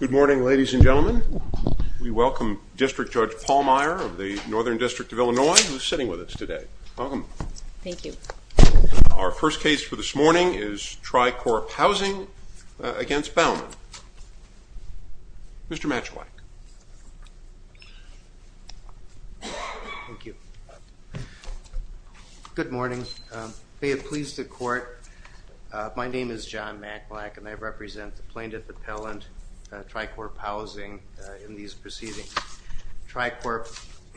Good morning, ladies and gentlemen. We welcome District Judge Paul Meyer of the Northern District of Illinois, who is sitting with us today. Welcome. Thank you. Our first case for this morning is Tri-Corp Housing against Bauman. Mr. Matchwack. Thank you. Good morning. May it please the court, my name is John Matchwack, and I represent the Plaintiff Appellant, Tri-Corp Housing, in these proceedings. Tri-Corp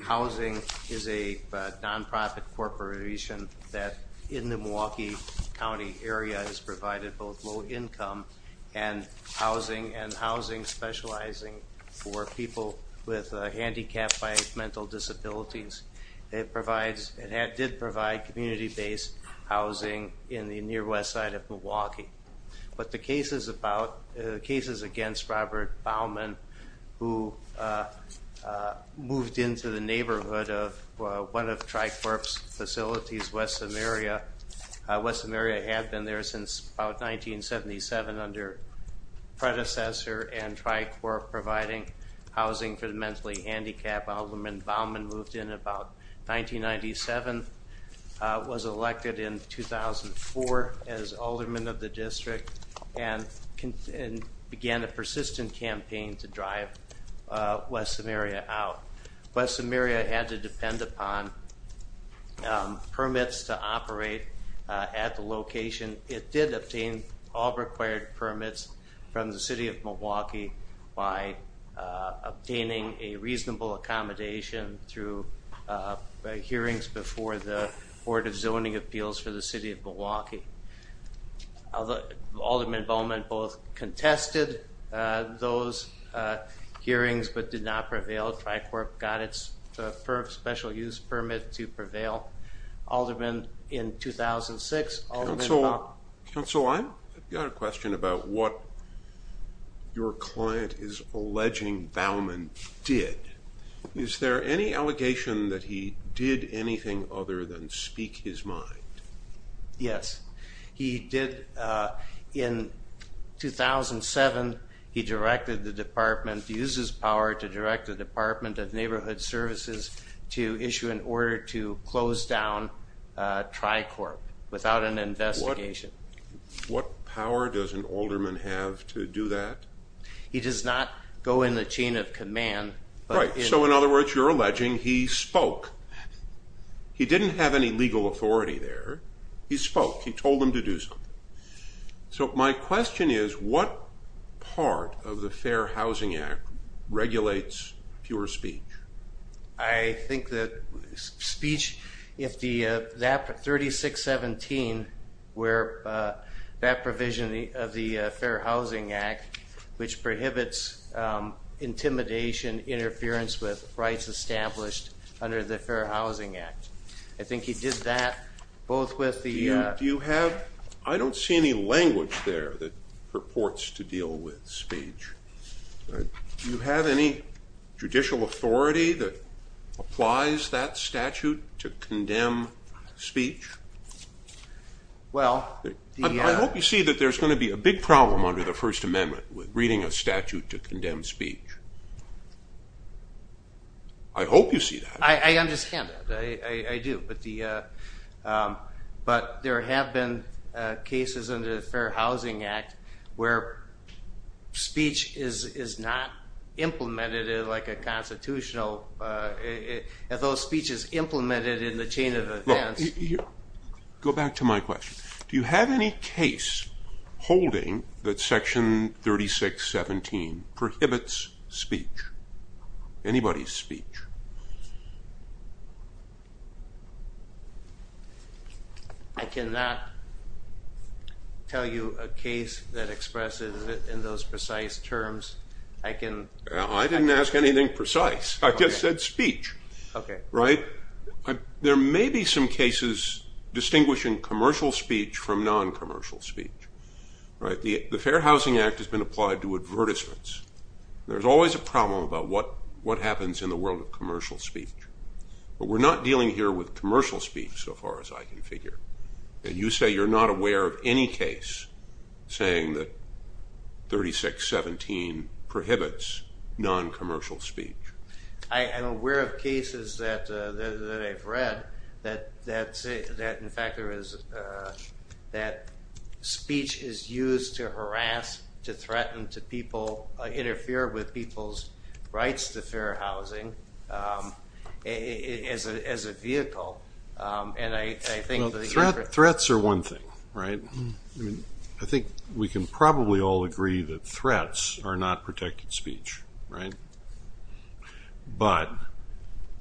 Housing is a non-profit corporation that, in the Milwaukee County area, has provided both low income and housing, and housing specializing for people with handicapped by mental disabilities. It did provide community-based housing in the near west side of Milwaukee. But the cases against Robert Bauman, who moved into the neighborhood of one of Tri-Corp's facilities, West Samaria, West Samaria had been there since about 1977, under predecessor, and Tri-Corp providing housing for the mentally handicapped, Bauman moved in about 1997, was elected in 2004 as alderman of the district, and began a persistent campaign to drive West Samaria out. West Samaria had to depend upon permits to operate at the location. It did obtain all required permits from the city of Milwaukee by obtaining a reasonable accommodation through hearings before the Board of Zoning Appeals for the city of Milwaukee. Alderman Bauman both contested those hearings, but did not prevail, Tri-Corp got its special use permit to prevail. Alderman in 2006, Alderman Bauman... Is there any allegation that he did anything other than speak his mind? Yes. He did, in 2007, he directed the department to use his power to direct the Department of Neighborhood Services to issue an order to close down Tri-Corp without an investigation. What power does an alderman have to do that? He does not go in the chain of command. Right, so in other words, you're alleging he spoke. He didn't have any legal authority there, he spoke, he told them to do something. So my question is, what part of the Fair Housing Act regulates pure speech? I think that speech, if the 3617, where that provision of the Fair Housing Act, which prohibits intimidation, interference with rights established under the Fair Housing Act. I think he did that both with the... Do you have... I don't see any language there that purports to deal with speech. Do you have any judicial authority that applies that statute to condemn speech? Well... I hope you see that there's going to be a big problem under the First Amendment with reading a statute to condemn speech. I hope you see that. I understand that, I do, but there have been cases under the Fair Housing Act where speech is not implemented in like a constitutional, if those speeches implemented in the chain of events. Go back to my question. Do you have any case holding that section 3617 prohibits speech? Anybody's speech. I cannot tell you a case that expresses it in those precise terms. I can... I didn't ask anything precise. I just said speech. There may be some cases distinguishing commercial speech from non-commercial speech. The Fair Housing Act has been applied to advertisements. There's always a problem about what happens in the world of commercial speech, but we're not dealing here with commercial speech so far as I can figure. You say you're not aware of any case saying that 3617 prohibits non-commercial speech. I am aware of cases that I've read that say that in fact there is... that speech is used to harass, to threaten, to interfere with people's rights to fair housing as a vehicle. And I think... Threats are one thing, right? I think we can probably all agree that threats are not protected speech, right? But...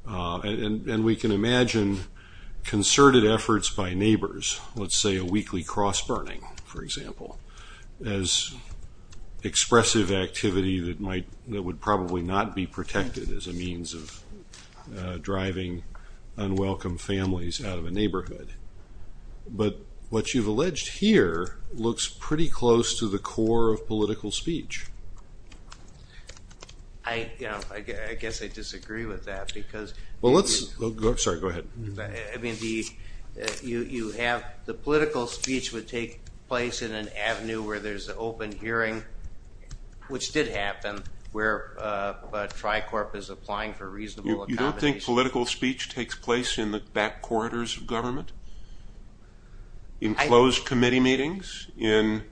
And we can imagine concerted efforts by neighbors. Let's say a weekly cross burning, for example, as expressive activity that would probably not be protected as a means of driving unwelcome families out of a neighborhood. But what you've alleged here looks pretty close to the core of political speech. I guess I disagree with that because... Well, let's... Sorry, go ahead. I mean, you have... The political speech would take place in an avenue where there's an open hearing, which did happen, where Tricorp is applying for reasonable accommodation. You don't think political speech takes place in the back corridors of government? In closed committee meetings? In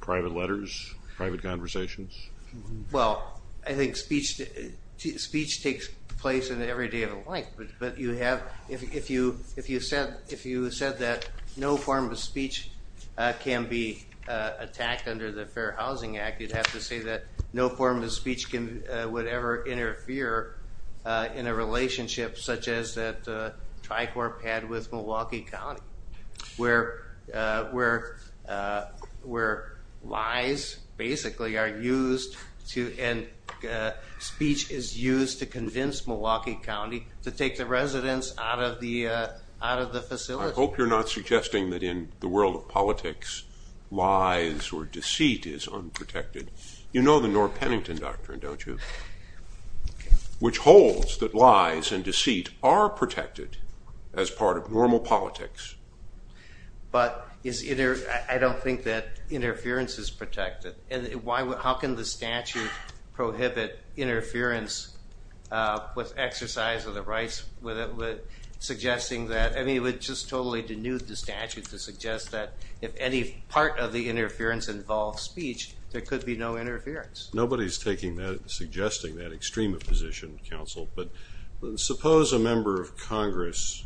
private letters? Private conversations? Well, I think speech takes place in every day of the life. But you have... If you said that no form of speech can be attacked under the Fair Housing Act, you'd have to say that no form of speech would ever interfere in a relationship such as that Tricorp had with Milwaukee County, where lies basically are used to... And speech is used to convince Milwaukee County to take the residents out of the facility. I hope you're not suggesting that in the world of politics, lies or deceit is unprotected. You know the Norr-Pennington Doctrine, don't you? Which holds that lies and deceit are protected as part of normal politics. But is... I don't think that interference is protected. And how can the statute prohibit interference with exercise of the rights, with suggesting that... I mean, it would just totally denude the statute to suggest that if any part of the interference involves speech, there could be no interference. Nobody's taking that, suggesting that extreme of position, counsel. But suppose a member of Congress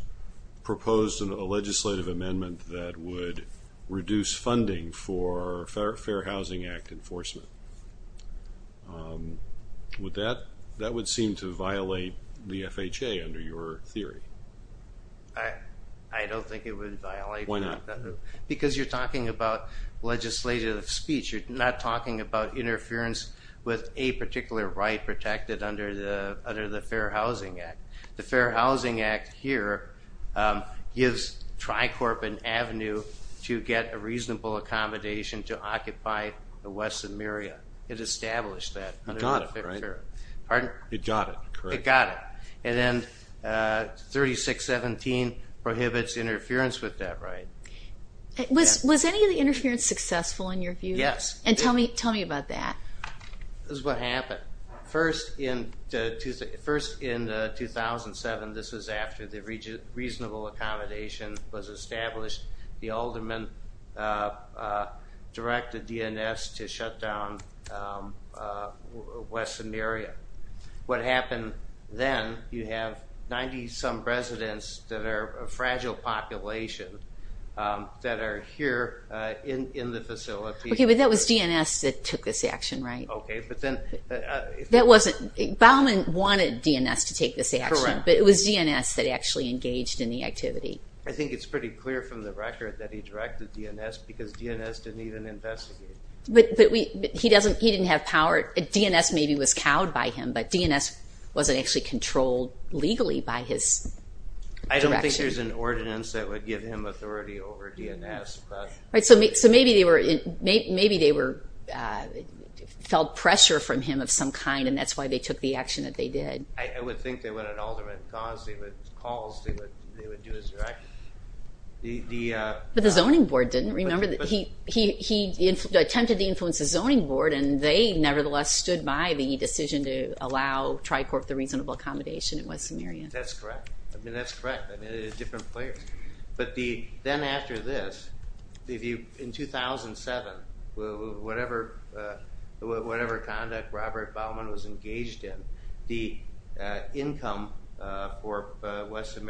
proposed a legislative amendment that would reduce funding for Fair Housing Act enforcement. Would that... That would seem to violate the FHA under your theory. I don't think it would violate... Why not? Because you're talking about legislative speech, you're not talking about interference with a particular right protected under the Fair Housing Act. The Fair Housing Act here gives Tricorp an avenue to get a reasonable accommodation to occupy the West Samaria. It established that. It got it, right? Pardon? It got it, correct. It got it. And then 3617 prohibits interference with that right. Was any of the interference successful in your view? Yes. And tell me about that. This is what happened. First in 2007, this was after the reasonable accommodation was established, the aldermen directed DNS to shut down West Samaria. What happened then, you have 90-some residents that are a fragile population that are here in the facility. Okay, but that was DNS that took this action, right? Okay, but then... That wasn't... Bauman wanted DNS to take this action, but it was DNS that actually engaged in the activity. I think it's pretty clear from the record that he directed DNS because DNS didn't even investigate. But he doesn't... DNS maybe was cowed by him, but DNS wasn't actually controlled legally by his direction. I don't think there's an ordinance that would give him authority over DNS, but... So maybe they felt pressure from him of some kind, and that's why they took the action that they did. I would think that when an alderman calls, they would do his direction. But the zoning board didn't, remember? He attempted to influence the zoning board, and they nevertheless stood by the decision to allow Tricorp the reasonable accommodation in West Samaria. That's correct. I mean, that's correct. I mean, they're different players. But then after this, in 2007, whatever conduct Robert Bauman was engaged in, the income for I think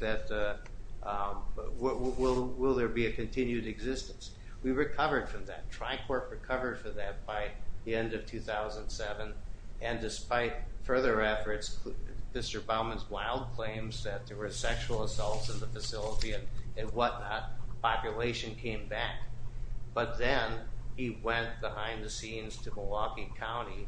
that... Will there be a continued existence? We recovered from that. Tricorp recovered from that by the end of 2007. And despite further efforts, Mr. Bauman's wild claims that there were sexual assaults in the facility and whatnot, population came back. But then he went behind the scenes to Milwaukee County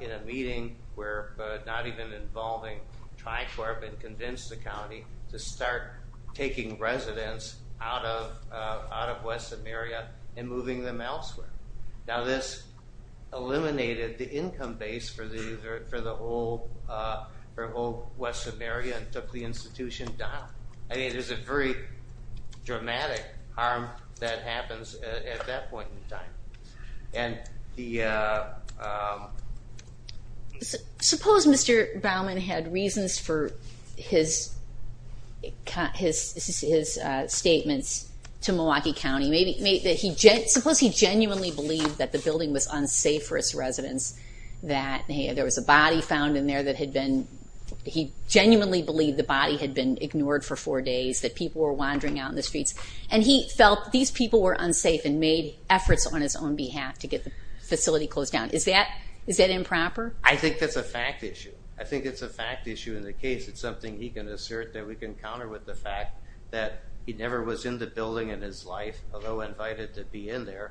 in a meeting where not even involving Tricorp and convinced the county to start taking residents out of West Samaria and moving them elsewhere. Now, this eliminated the income base for the whole West Samaria and took the institution down. I mean, there's a very dramatic harm that happens at that point in time. And the... Suppose Mr. Bauman had reasons for his statements to Milwaukee County. Suppose he genuinely believed that the building was unsafe for its residents, that there was a body found in there that had been... He genuinely believed the body had been ignored for four days, that people were wandering out in the streets. And he felt these people were unsafe and made efforts on his own behalf to get the facility closed down. Is that improper? I think that's a fact issue. I think it's a fact issue in the case. It's something he can assert that we can counter with the fact that he never was in the building in his life, although invited to be in there,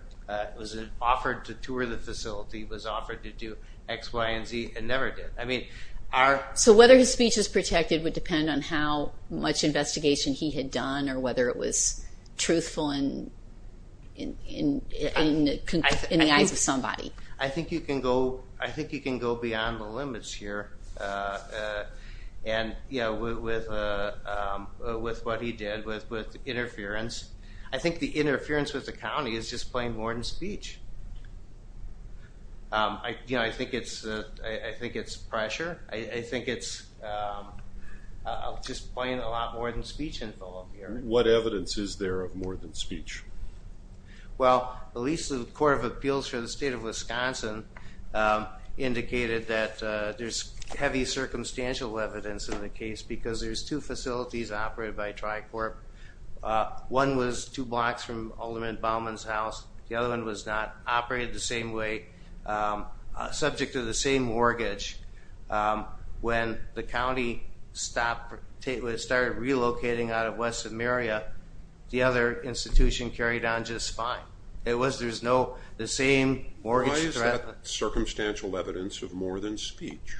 was offered to tour the facility, was offered to do X, Y, and Z, and never did. So whether his speech is protected would depend on how much investigation he had done or whether it was truthful in the eyes of somebody. I think you can go beyond the limits here. And with what he did with interference, I think the interference with the county is just plain more than speech. I think it's pressure. I think it's just plain a lot more than speech in Philadelphia. What evidence is there of more than speech? Well, at least the Court of Appeals for the state of Wisconsin indicated that there's heavy circumstantial evidence in the case because there's two facilities operated by Tricorp. One was two blocks from Alderman Bauman's house. The other one was not operated the same way, subject to the same mortgage. When the county started relocating out of West Samaria, the other institution carried on just fine. It was, there's no, the same mortgage threat. Why is that circumstantial evidence of more than speech?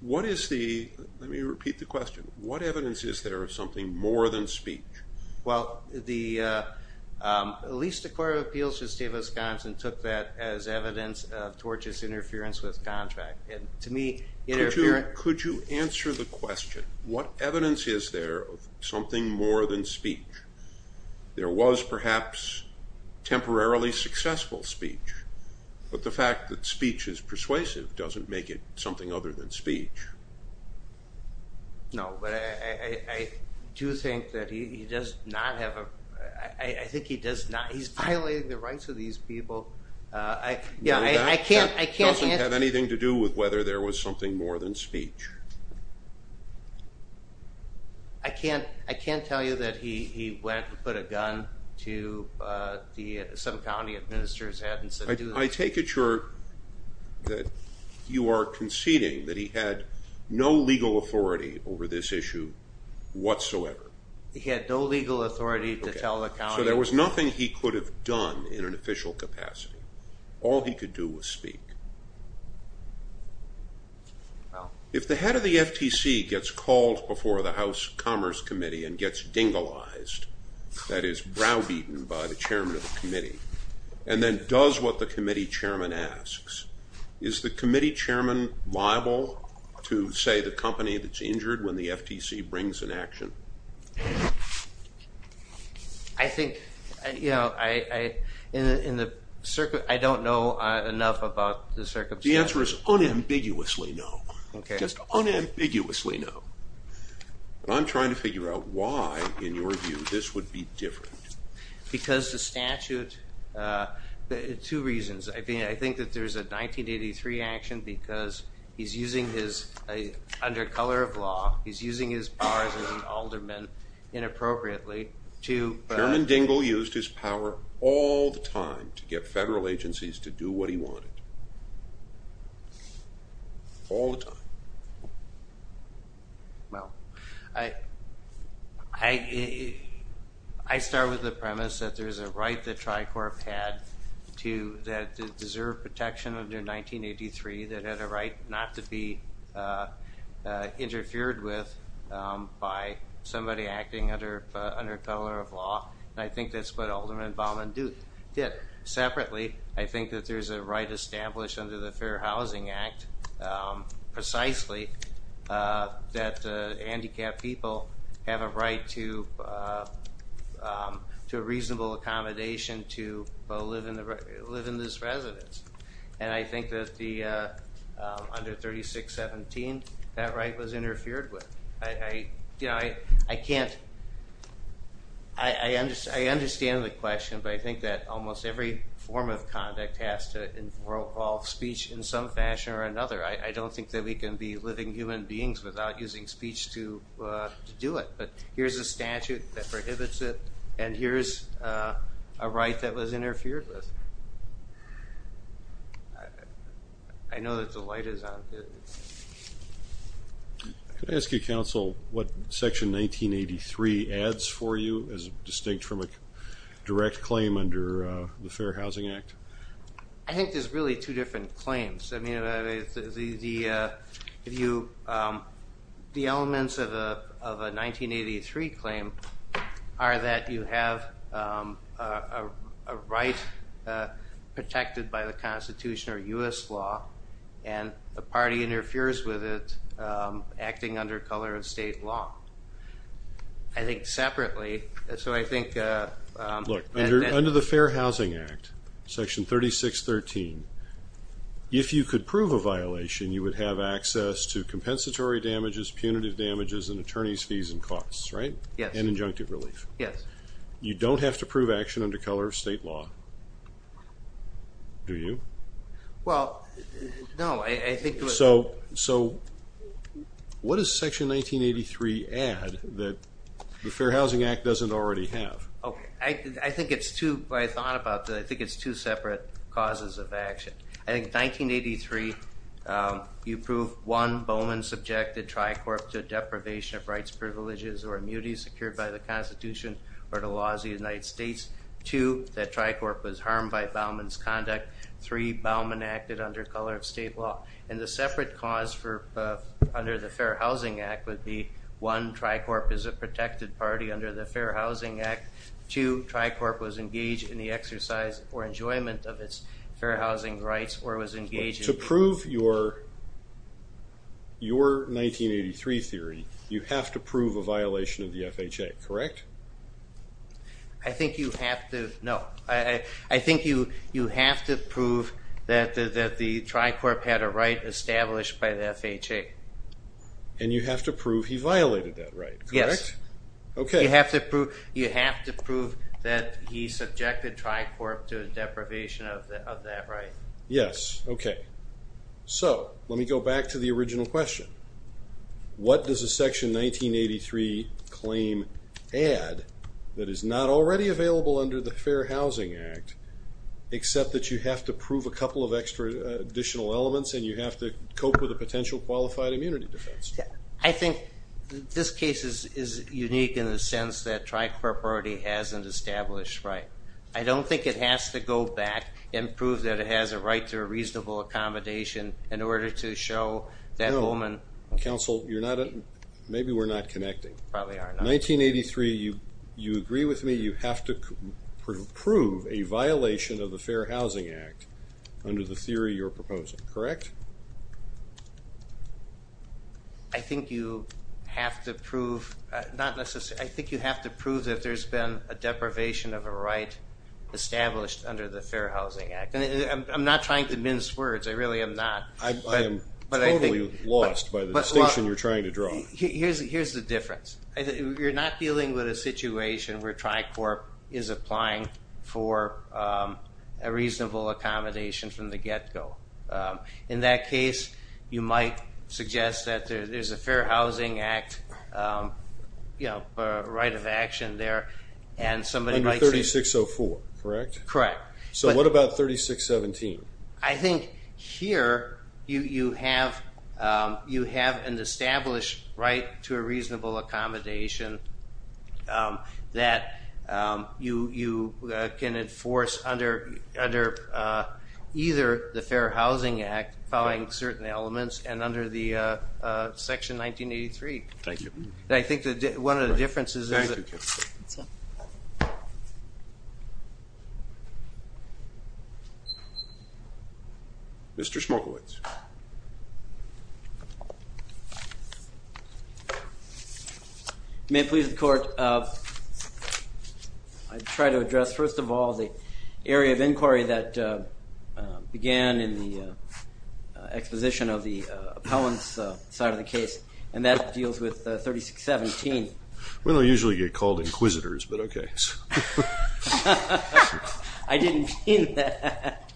What is the, let me repeat the question, what evidence is there of something more than speech? Well the, at least the Court of Appeals for the state of Wisconsin took that as evidence of Torch's interference with contract. To me, interference. Could you answer the question? What evidence is there of something more than speech? There was perhaps temporarily successful speech, but the fact that speech is persuasive doesn't make it something other than speech. No, but I do think that he does not have a, I think he does not, he's violating the rights of these people. I, yeah, I can't, I can't answer that. No, that doesn't have anything to do with whether there was something more than speech. I can't, I can't tell you that he went and put a gun to the, some county administrator's head and said do this. I take it you're, that you are conceding that he had no legal authority over this issue He had no legal authority to tell the county. So there was nothing he could have done in an official capacity. All he could do was speak. If the head of the FTC gets called before the House Commerce Committee and gets dingalized, that is browbeaten by the chairman of the committee, and then does what the committee chairman asks, is the committee chairman liable to say the company that's injured when the FTC brings an action? I think, you know, I, I, in the, in the, I don't know enough about the circumstances. The answer is unambiguously no. Okay. Just unambiguously no. And I'm trying to figure out why, in your view, this would be different. Because the statute, two reasons, I mean I think that there's a 1983 action because he's using his powers as an alderman inappropriately to. Chairman Dingell used his power all the time to get federal agencies to do what he wanted. All the time. Well, I, I, I start with the premise that there's a right that Tricorp had to, that it deserved protection under 1983, that had a right not to be interfered with by somebody acting under, under color of law. I think that's what Alderman Baumann did. Separately, I think that there's a right established under the Fair Housing Act, precisely, that the handicapped people have a right to, to a reasonable accommodation to live in the, live in this residence. And I think that the, under 3617, that right was interfered with. I, I, you know, I, I can't, I, I understand, I understand the question, but I think that almost every form of conduct has to involve speech in some fashion or another. I, I don't think that we can be living human beings without using speech to, to do it. But here's a statute that prohibits it, and here's a right that was interfered with. I know that the light is on. Could I ask you, counsel, what section 1983 adds for you as distinct from a direct claim under the Fair Housing Act? I think there's really two different claims. I mean, the, if you, the elements of a, of a 1983 claim are that you have a right protected by the Constitution or U.S. law, and a party interferes with it, acting under color of state law. I think separately, so I think... Look, under, under the Fair Housing Act, section 3613, if you could prove a violation, you would have access to compensatory damages, punitive damages, and attorney's fees and costs, right? Yes. And injunctive relief. Yes. You don't have to prove action under color of state law, do you? Well, no, I, I think... So, so what does section 1983 add that the Fair Housing Act doesn't already have? Okay, I, I think it's two, I thought about that, I think it's two separate causes of action. I think 1983, you prove, one, Bowman subjected Tricorp to deprivation of rights, privileges, or immunity secured by the Constitution or the laws of the United States, two, that Tricorp was harmed by Bowman's conduct, three, Bowman acted under color of state law, and the separate cause for, under the Fair Housing Act would be, one, Tricorp is a protected party under the Fair Housing Act, two, Tricorp was engaged in the exercise or enjoyment of its fair housing rights or was engaged in... To prove your, your 1983 theory, you have to prove a violation of the FHA, correct? I think you have to, no, I, I think you, you have to prove that the, that the Tricorp had a right established by the FHA. And you have to prove he violated that right, correct? Yes. Okay. You have to prove, you have to prove that he subjected Tricorp to a deprivation of that right. Yes. Okay. So, let me go back to the original question. What does a section 1983 claim add that is not already available under the Fair Housing Act except that you have to prove a couple of extra, additional elements and you have to cope with a potential qualified immunity defense? I think this case is, is unique in the sense that Tricorp already has an established right. I don't think it has to go back and prove that it has a right to a reasonable accommodation in order to show that woman... No. Counsel, you're not, maybe we're not connecting. Probably are not. 1983, you, you agree with me, you have to prove a violation of the Fair Housing Act under the theory you're proposing, correct? I think you have to prove, not necessarily, I think you have to prove that there's been a deprivation of a right established under the Fair Housing Act. I'm not trying to mince words, I really am not. I am totally lost by the distinction you're trying to draw. Here's the difference. You're not dealing with a situation where Tricorp is applying for a reasonable accommodation from the get-go. In that case, you might suggest that there's a Fair Housing Act right of action there and somebody might say... Under 3604, correct? Correct. So what about 3617? I think here, you have an established right to a reasonable accommodation that you can enforce under either the Fair Housing Act, following certain elements, and under the Section 1983. Thank you. I think that one of the differences is that... Thank you. That's all. Mr. Smolkowicz. May it please the Court, I try to address, first of all, the area of inquiry that began in the exposition of the appellant's side of the case, and that deals with 3617. Well, they usually get called inquisitors, but okay. I didn't mean that.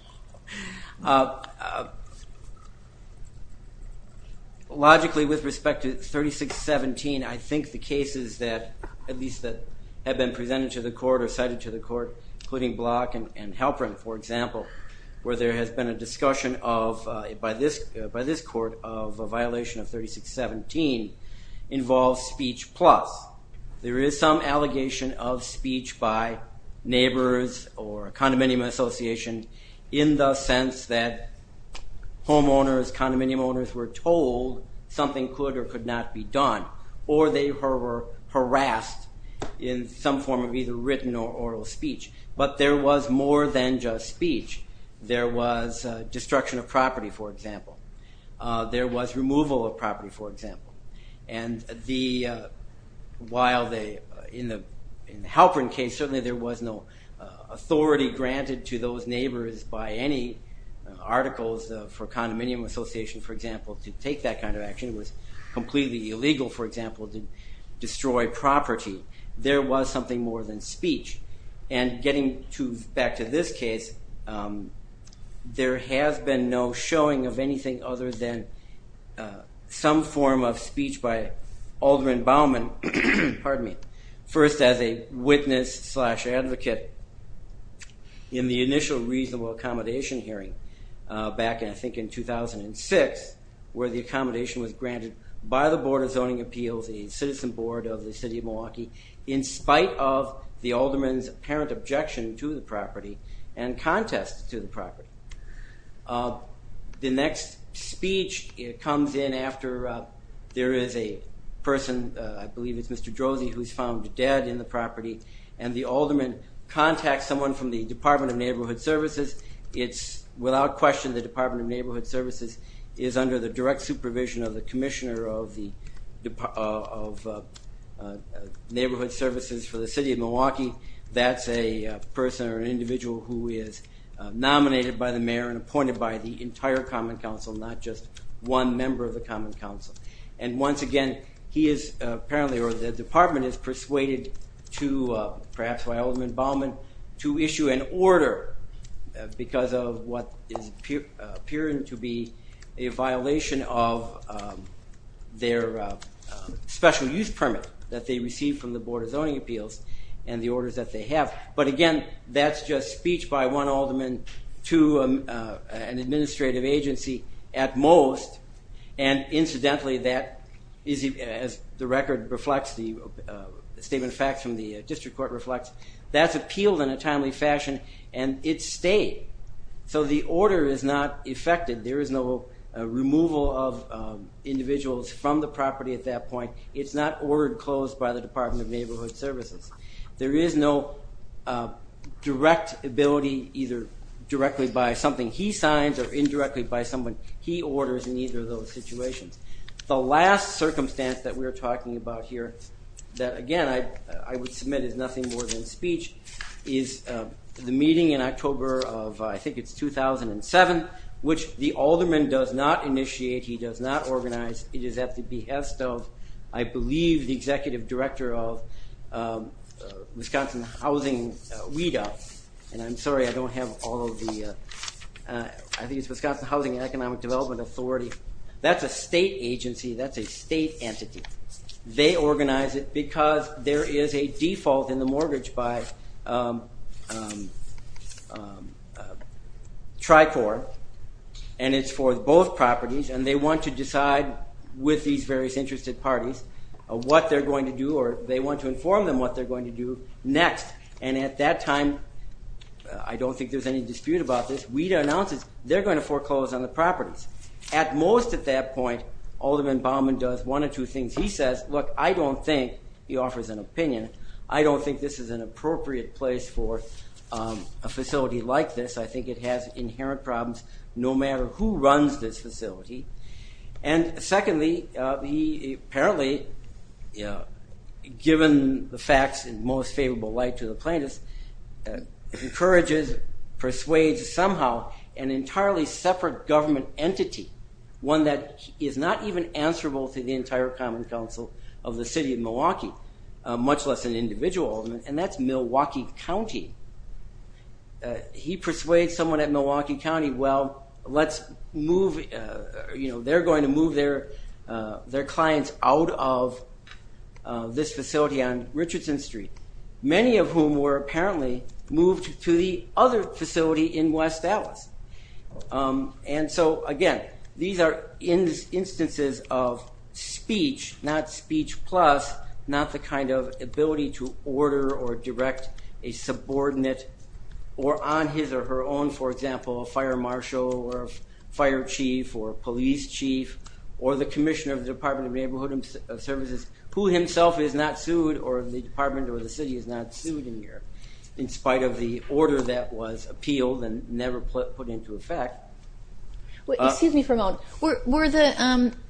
Logically, with respect to 3617, I think the cases that, at least that have been presented to the Court or cited to the Court, including Block and Halperin, for example, where there has been a discussion by this Court of a violation of 3617 involves speech plus. There is some allegation of speech by neighbors or a condominium association in the sense that homeowners, condominium owners, were told something could or could not be done, or they were harassed in some form of either written or oral speech. But there was more than just speech. There was destruction of property, for example. There was removal of property, for example. And while in the Halperin case, certainly there was no authority granted to those neighbors by any articles for a condominium association, for example, to take that kind of action. It was completely illegal, for example, to destroy property. There was something more than speech. And getting back to this case, there has been no showing of anything other than some form of speech by Alderman Baumann, first as a witness slash advocate in the initial reasonable accommodation hearing back in, I think, 2006, where the accommodation was granted by the Board of Zoning Appeals, a citizen board of the city of Milwaukee, in spite of the alderman's apparent objection to the property and contest to the property. The next speech comes in after there is a person, I believe it's Mr. Drozdy, who's found dead in the property, and the alderman contacts someone from the Department of Neighborhood Services. It's without question the Department of Neighborhood Services is under the direct supervision of the Commissioner of Neighborhood Services for the city of Milwaukee. That's a person or an individual who is nominated by the mayor and appointed by the entire Common Council, not just one member of the Common Council. And once again, he is apparently, or the department is persuaded to, perhaps by Alderman Baumann, to issue an order because of what is appearing to be a violation of their special use permit that they received from the Board of Zoning Appeals and the orders that they have. But again, that's just speech by one alderman to an administrative agency at most, and incidentally that is, as the record reflects, the statement of facts from the district court reflects, that's appealed in a timely fashion and it stayed. So the order is not effected. There is no removal of individuals from the property at that point. It's not ordered closed by the Department of Neighborhood Services. There is no direct ability, either directly by something he signs or indirectly by someone he orders in either of those situations. The last circumstance that we're talking about here, that again I would submit is nothing more than speech, is the meeting in October of, I think it's 2007, which the alderman does not initiate, he does not organize. It is at the behest of, I believe, the Executive Director of Wisconsin Housing WIDA, and I'm sorry I don't have all of the, I think it's Wisconsin Housing and Economic Development Authority. That's a state agency, that's a state entity. They organize it because there is a default in the mortgage by Tricor, and it's for both properties, and they want to decide with these various interested parties what they're going to do or they want to inform them what they're going to do next. And at that time, I don't think there's any dispute about this, WIDA announces they're going to foreclose on the properties. At most at that point, alderman Baumann does one or two things. He says, look, I don't think, he offers an opinion, I don't think this is an appropriate place for a facility like this. I think it has inherent problems no matter who runs this facility. And secondly, he apparently, given the facts in most favorable light to the plaintiffs, encourages, persuades somehow an entirely separate government entity, one that is not even answerable to the entire Common Council of the city of Milwaukee, much less an individual, and that's Milwaukee County. He persuades someone at Milwaukee County, well, let's move, they're going to move their clients out of this facility on Richardson Street, many of whom were apparently moved to the other facility in West Dallas. And so, again, these are instances of speech, not speech plus, not the kind of ability to order or direct a subordinate or on his or her own, for example, a fire marshal or a fire chief or a police chief or the commissioner of the Department of Neighborhood Services, who himself is not sued or the department or the city is not sued in here, in spite of the order that was appealed and never put into effect. Excuse me for a moment.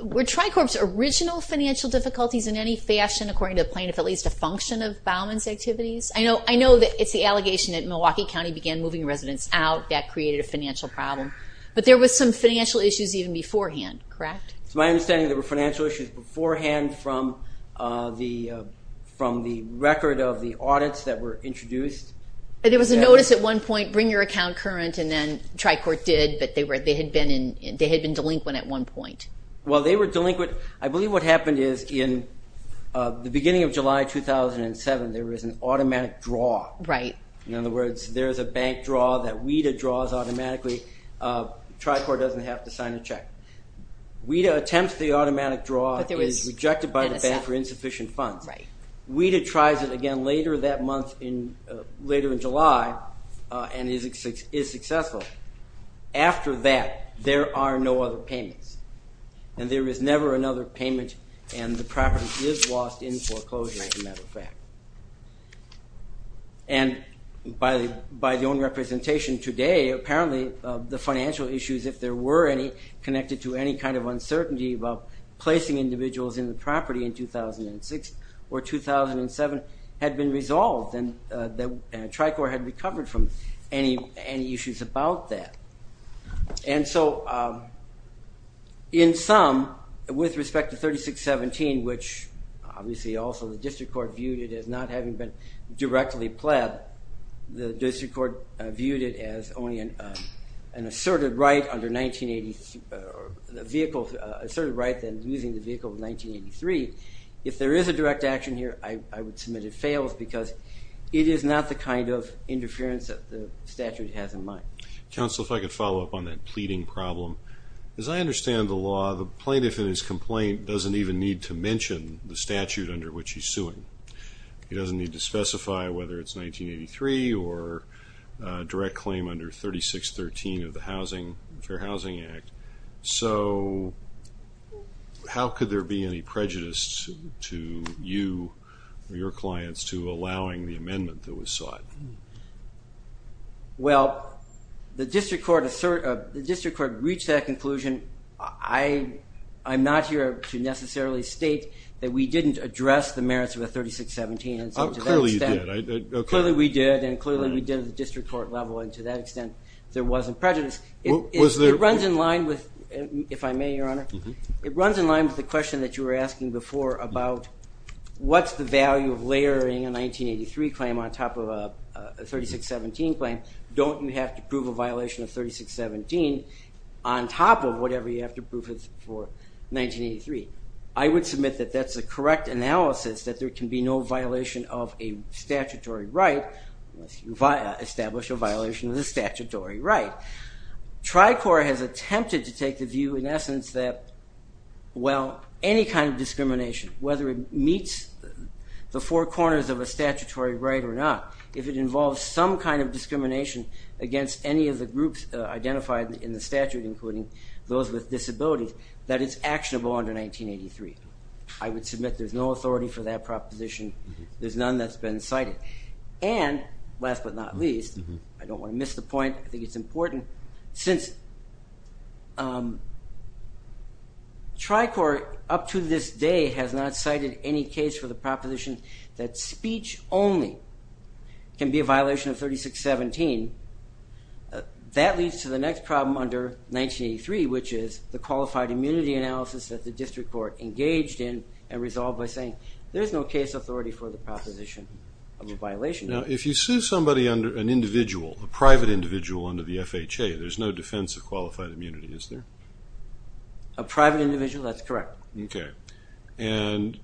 Were Tricorp's original financial difficulties in any fashion, according to the plaintiff, at least a function of Bauman's activities? I know that it's the allegation that Milwaukee County began moving residents out. That created a financial problem. But there was some financial issues even beforehand, correct? It's my understanding there were financial issues beforehand from the record of the audits that were introduced. There was a notice at one point, bring your account current, and then Tricorp did, but they had been delinquent at one point. Well, they were delinquent. I believe what happened is in the beginning of July 2007, there was an automatic draw. In other words, there's a bank draw that WIDA draws automatically. Tricorp doesn't have to sign a check. WIDA attempts the automatic draw, is rejected by the bank for insufficient funds. WIDA tries it again later that month, later in July, and is successful. After that, there are no other payments. And there is never another payment, and the property is lost in foreclosure, as a matter of fact. And by the own representation today, apparently the financial issues, if there were any connected to any kind of uncertainty about placing individuals in the property in 2006 or 2007, had been resolved, and Tricorp had recovered from any issues about that. And so in sum, with respect to 3617, which obviously also the district court viewed it as not having been directly pled, the district court viewed it as only an asserted right under 1980, a vehicle, asserted right then using the vehicle of 1983. If there is a direct action here, I would submit it fails, because it is not the kind of interference that the statute has in mind. Counsel, if I could follow up on that pleading problem. As I understand the law, the plaintiff in his complaint doesn't even need to mention the statute under which he's suing. He doesn't need to specify whether it's 1983 or a direct claim under 3613 of the Fair Housing Act. So how could there be any prejudice to you or your clients to allowing the amendment that was sought? Well, the district court reached that conclusion. I'm not here to necessarily state that we didn't address the merits of the 3617. Clearly you did. Clearly we did, and clearly we did at the district court level, and to that extent there wasn't prejudice. It runs in line with, if I may, Your Honor, it runs in line with the question that you were asking before about what's the value of layering a 1983 claim on top of a 3617 claim? Don't you have to prove a violation of 3617 on top of whatever you have to prove for 1983? I would submit that that's the correct analysis, that there can be no violation of a statutory right unless you establish a violation of the statutory right. Tricor has attempted to take the view, in essence, that any kind of discrimination, whether it meets the four corners of a statutory right or not, if it involves some kind of discrimination against any of the groups identified in the statute, including those with disabilities, that it's actionable under 1983. I would submit there's no authority for that proposition. There's none that's been cited. And last but not least, I don't want to miss the point, I think it's important, since Tricor up to this day has not cited any case for the proposition that speech only can be a violation of 3617, that leads to the next problem under 1983, which is the qualified immunity analysis that the district court engaged in and resolved by saying, there's no case authority for the proposition of a violation. Now, if you sue somebody, an individual, a private individual under the FHA, there's no defense of qualified immunity, is there? A private individual, that's correct. Okay. And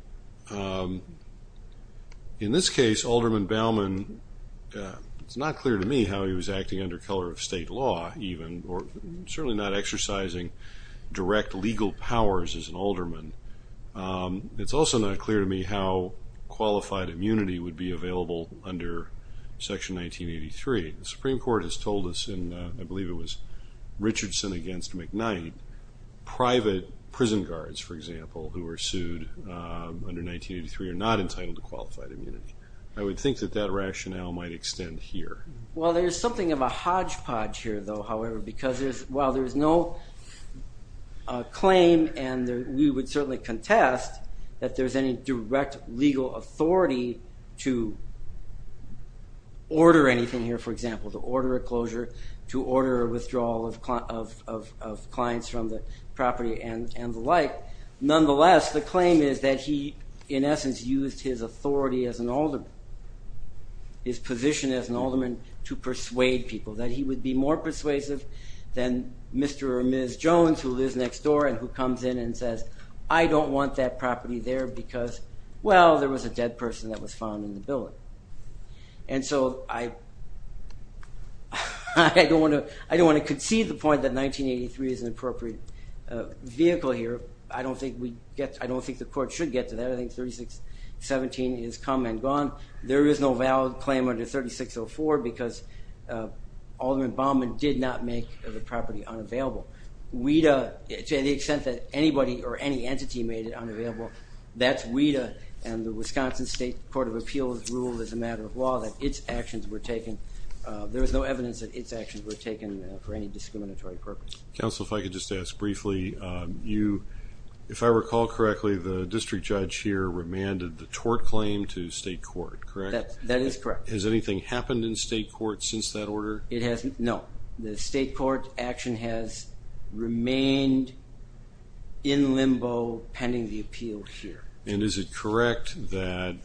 in this case, Alderman Bauman, it's not clear to me how he was acting under color of state law, even, or certainly not exercising direct legal powers as an alderman. It's also not clear to me how qualified immunity would be available under Section 1983. The Supreme Court has told us, and I believe it was Richardson against McKnight, private prison guards, for example, who were sued under 1983 are not entitled to qualified immunity. I would think that that rationale might extend here. Well, there's something of a hodgepodge here, though, however, because while there's no claim, and we would certainly contest that there's any direct legal authority to order anything here, for example, to order a closure, to order a withdrawal of clients from the property and the like, nonetheless, the claim is that he, in essence, used his authority as an alderman, his position as an alderman to persuade people, that he would be more persuasive than Mr. or Ms. Jones, who lives next door and who comes in and says, I don't want that property there because, well, there was a dead person that was found in the building. And so I don't want to concede the point that 1983 is an appropriate vehicle here. I don't think the court should get to that. I think 3617 is come and gone. There is no valid claim under 3604 because alderman Baumann did not make the property unavailable. WIDA, to the extent that anybody or any entity made it unavailable, that's WIDA and the Wisconsin State Court of Appeals ruled as a matter of law that its actions were taken. There was no evidence that its actions were taken for any discriminatory purpose. Counsel, if I could just ask briefly, if I recall correctly, the district judge here commanded the tort claim to state court, correct? That is correct. Has anything happened in state court since that order? No. The state court action has remained in limbo pending the appeal here. And is it correct that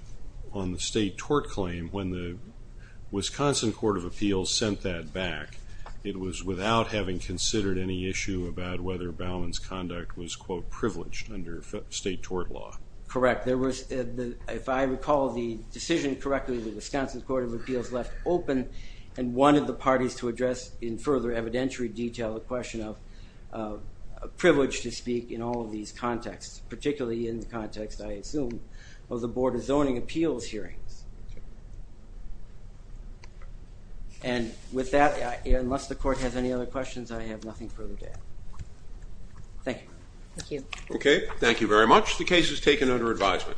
on the state tort claim, when the Wisconsin Court of Appeals sent that back, it was without having considered any issue about whether Baumann's conduct was, quote, privileged under state tort law? Correct. If I recall the decision correctly, the Wisconsin Court of Appeals left open and wanted the parties to address in further evidentiary detail the question of privilege to speak in all of these contexts, particularly in the context, I assume, of the Board of Zoning Appeals hearings. And with that, unless the court has any other questions, I have nothing further to add. Thank you. Thank you. Okay, thank you very much. The case is taken under advisement.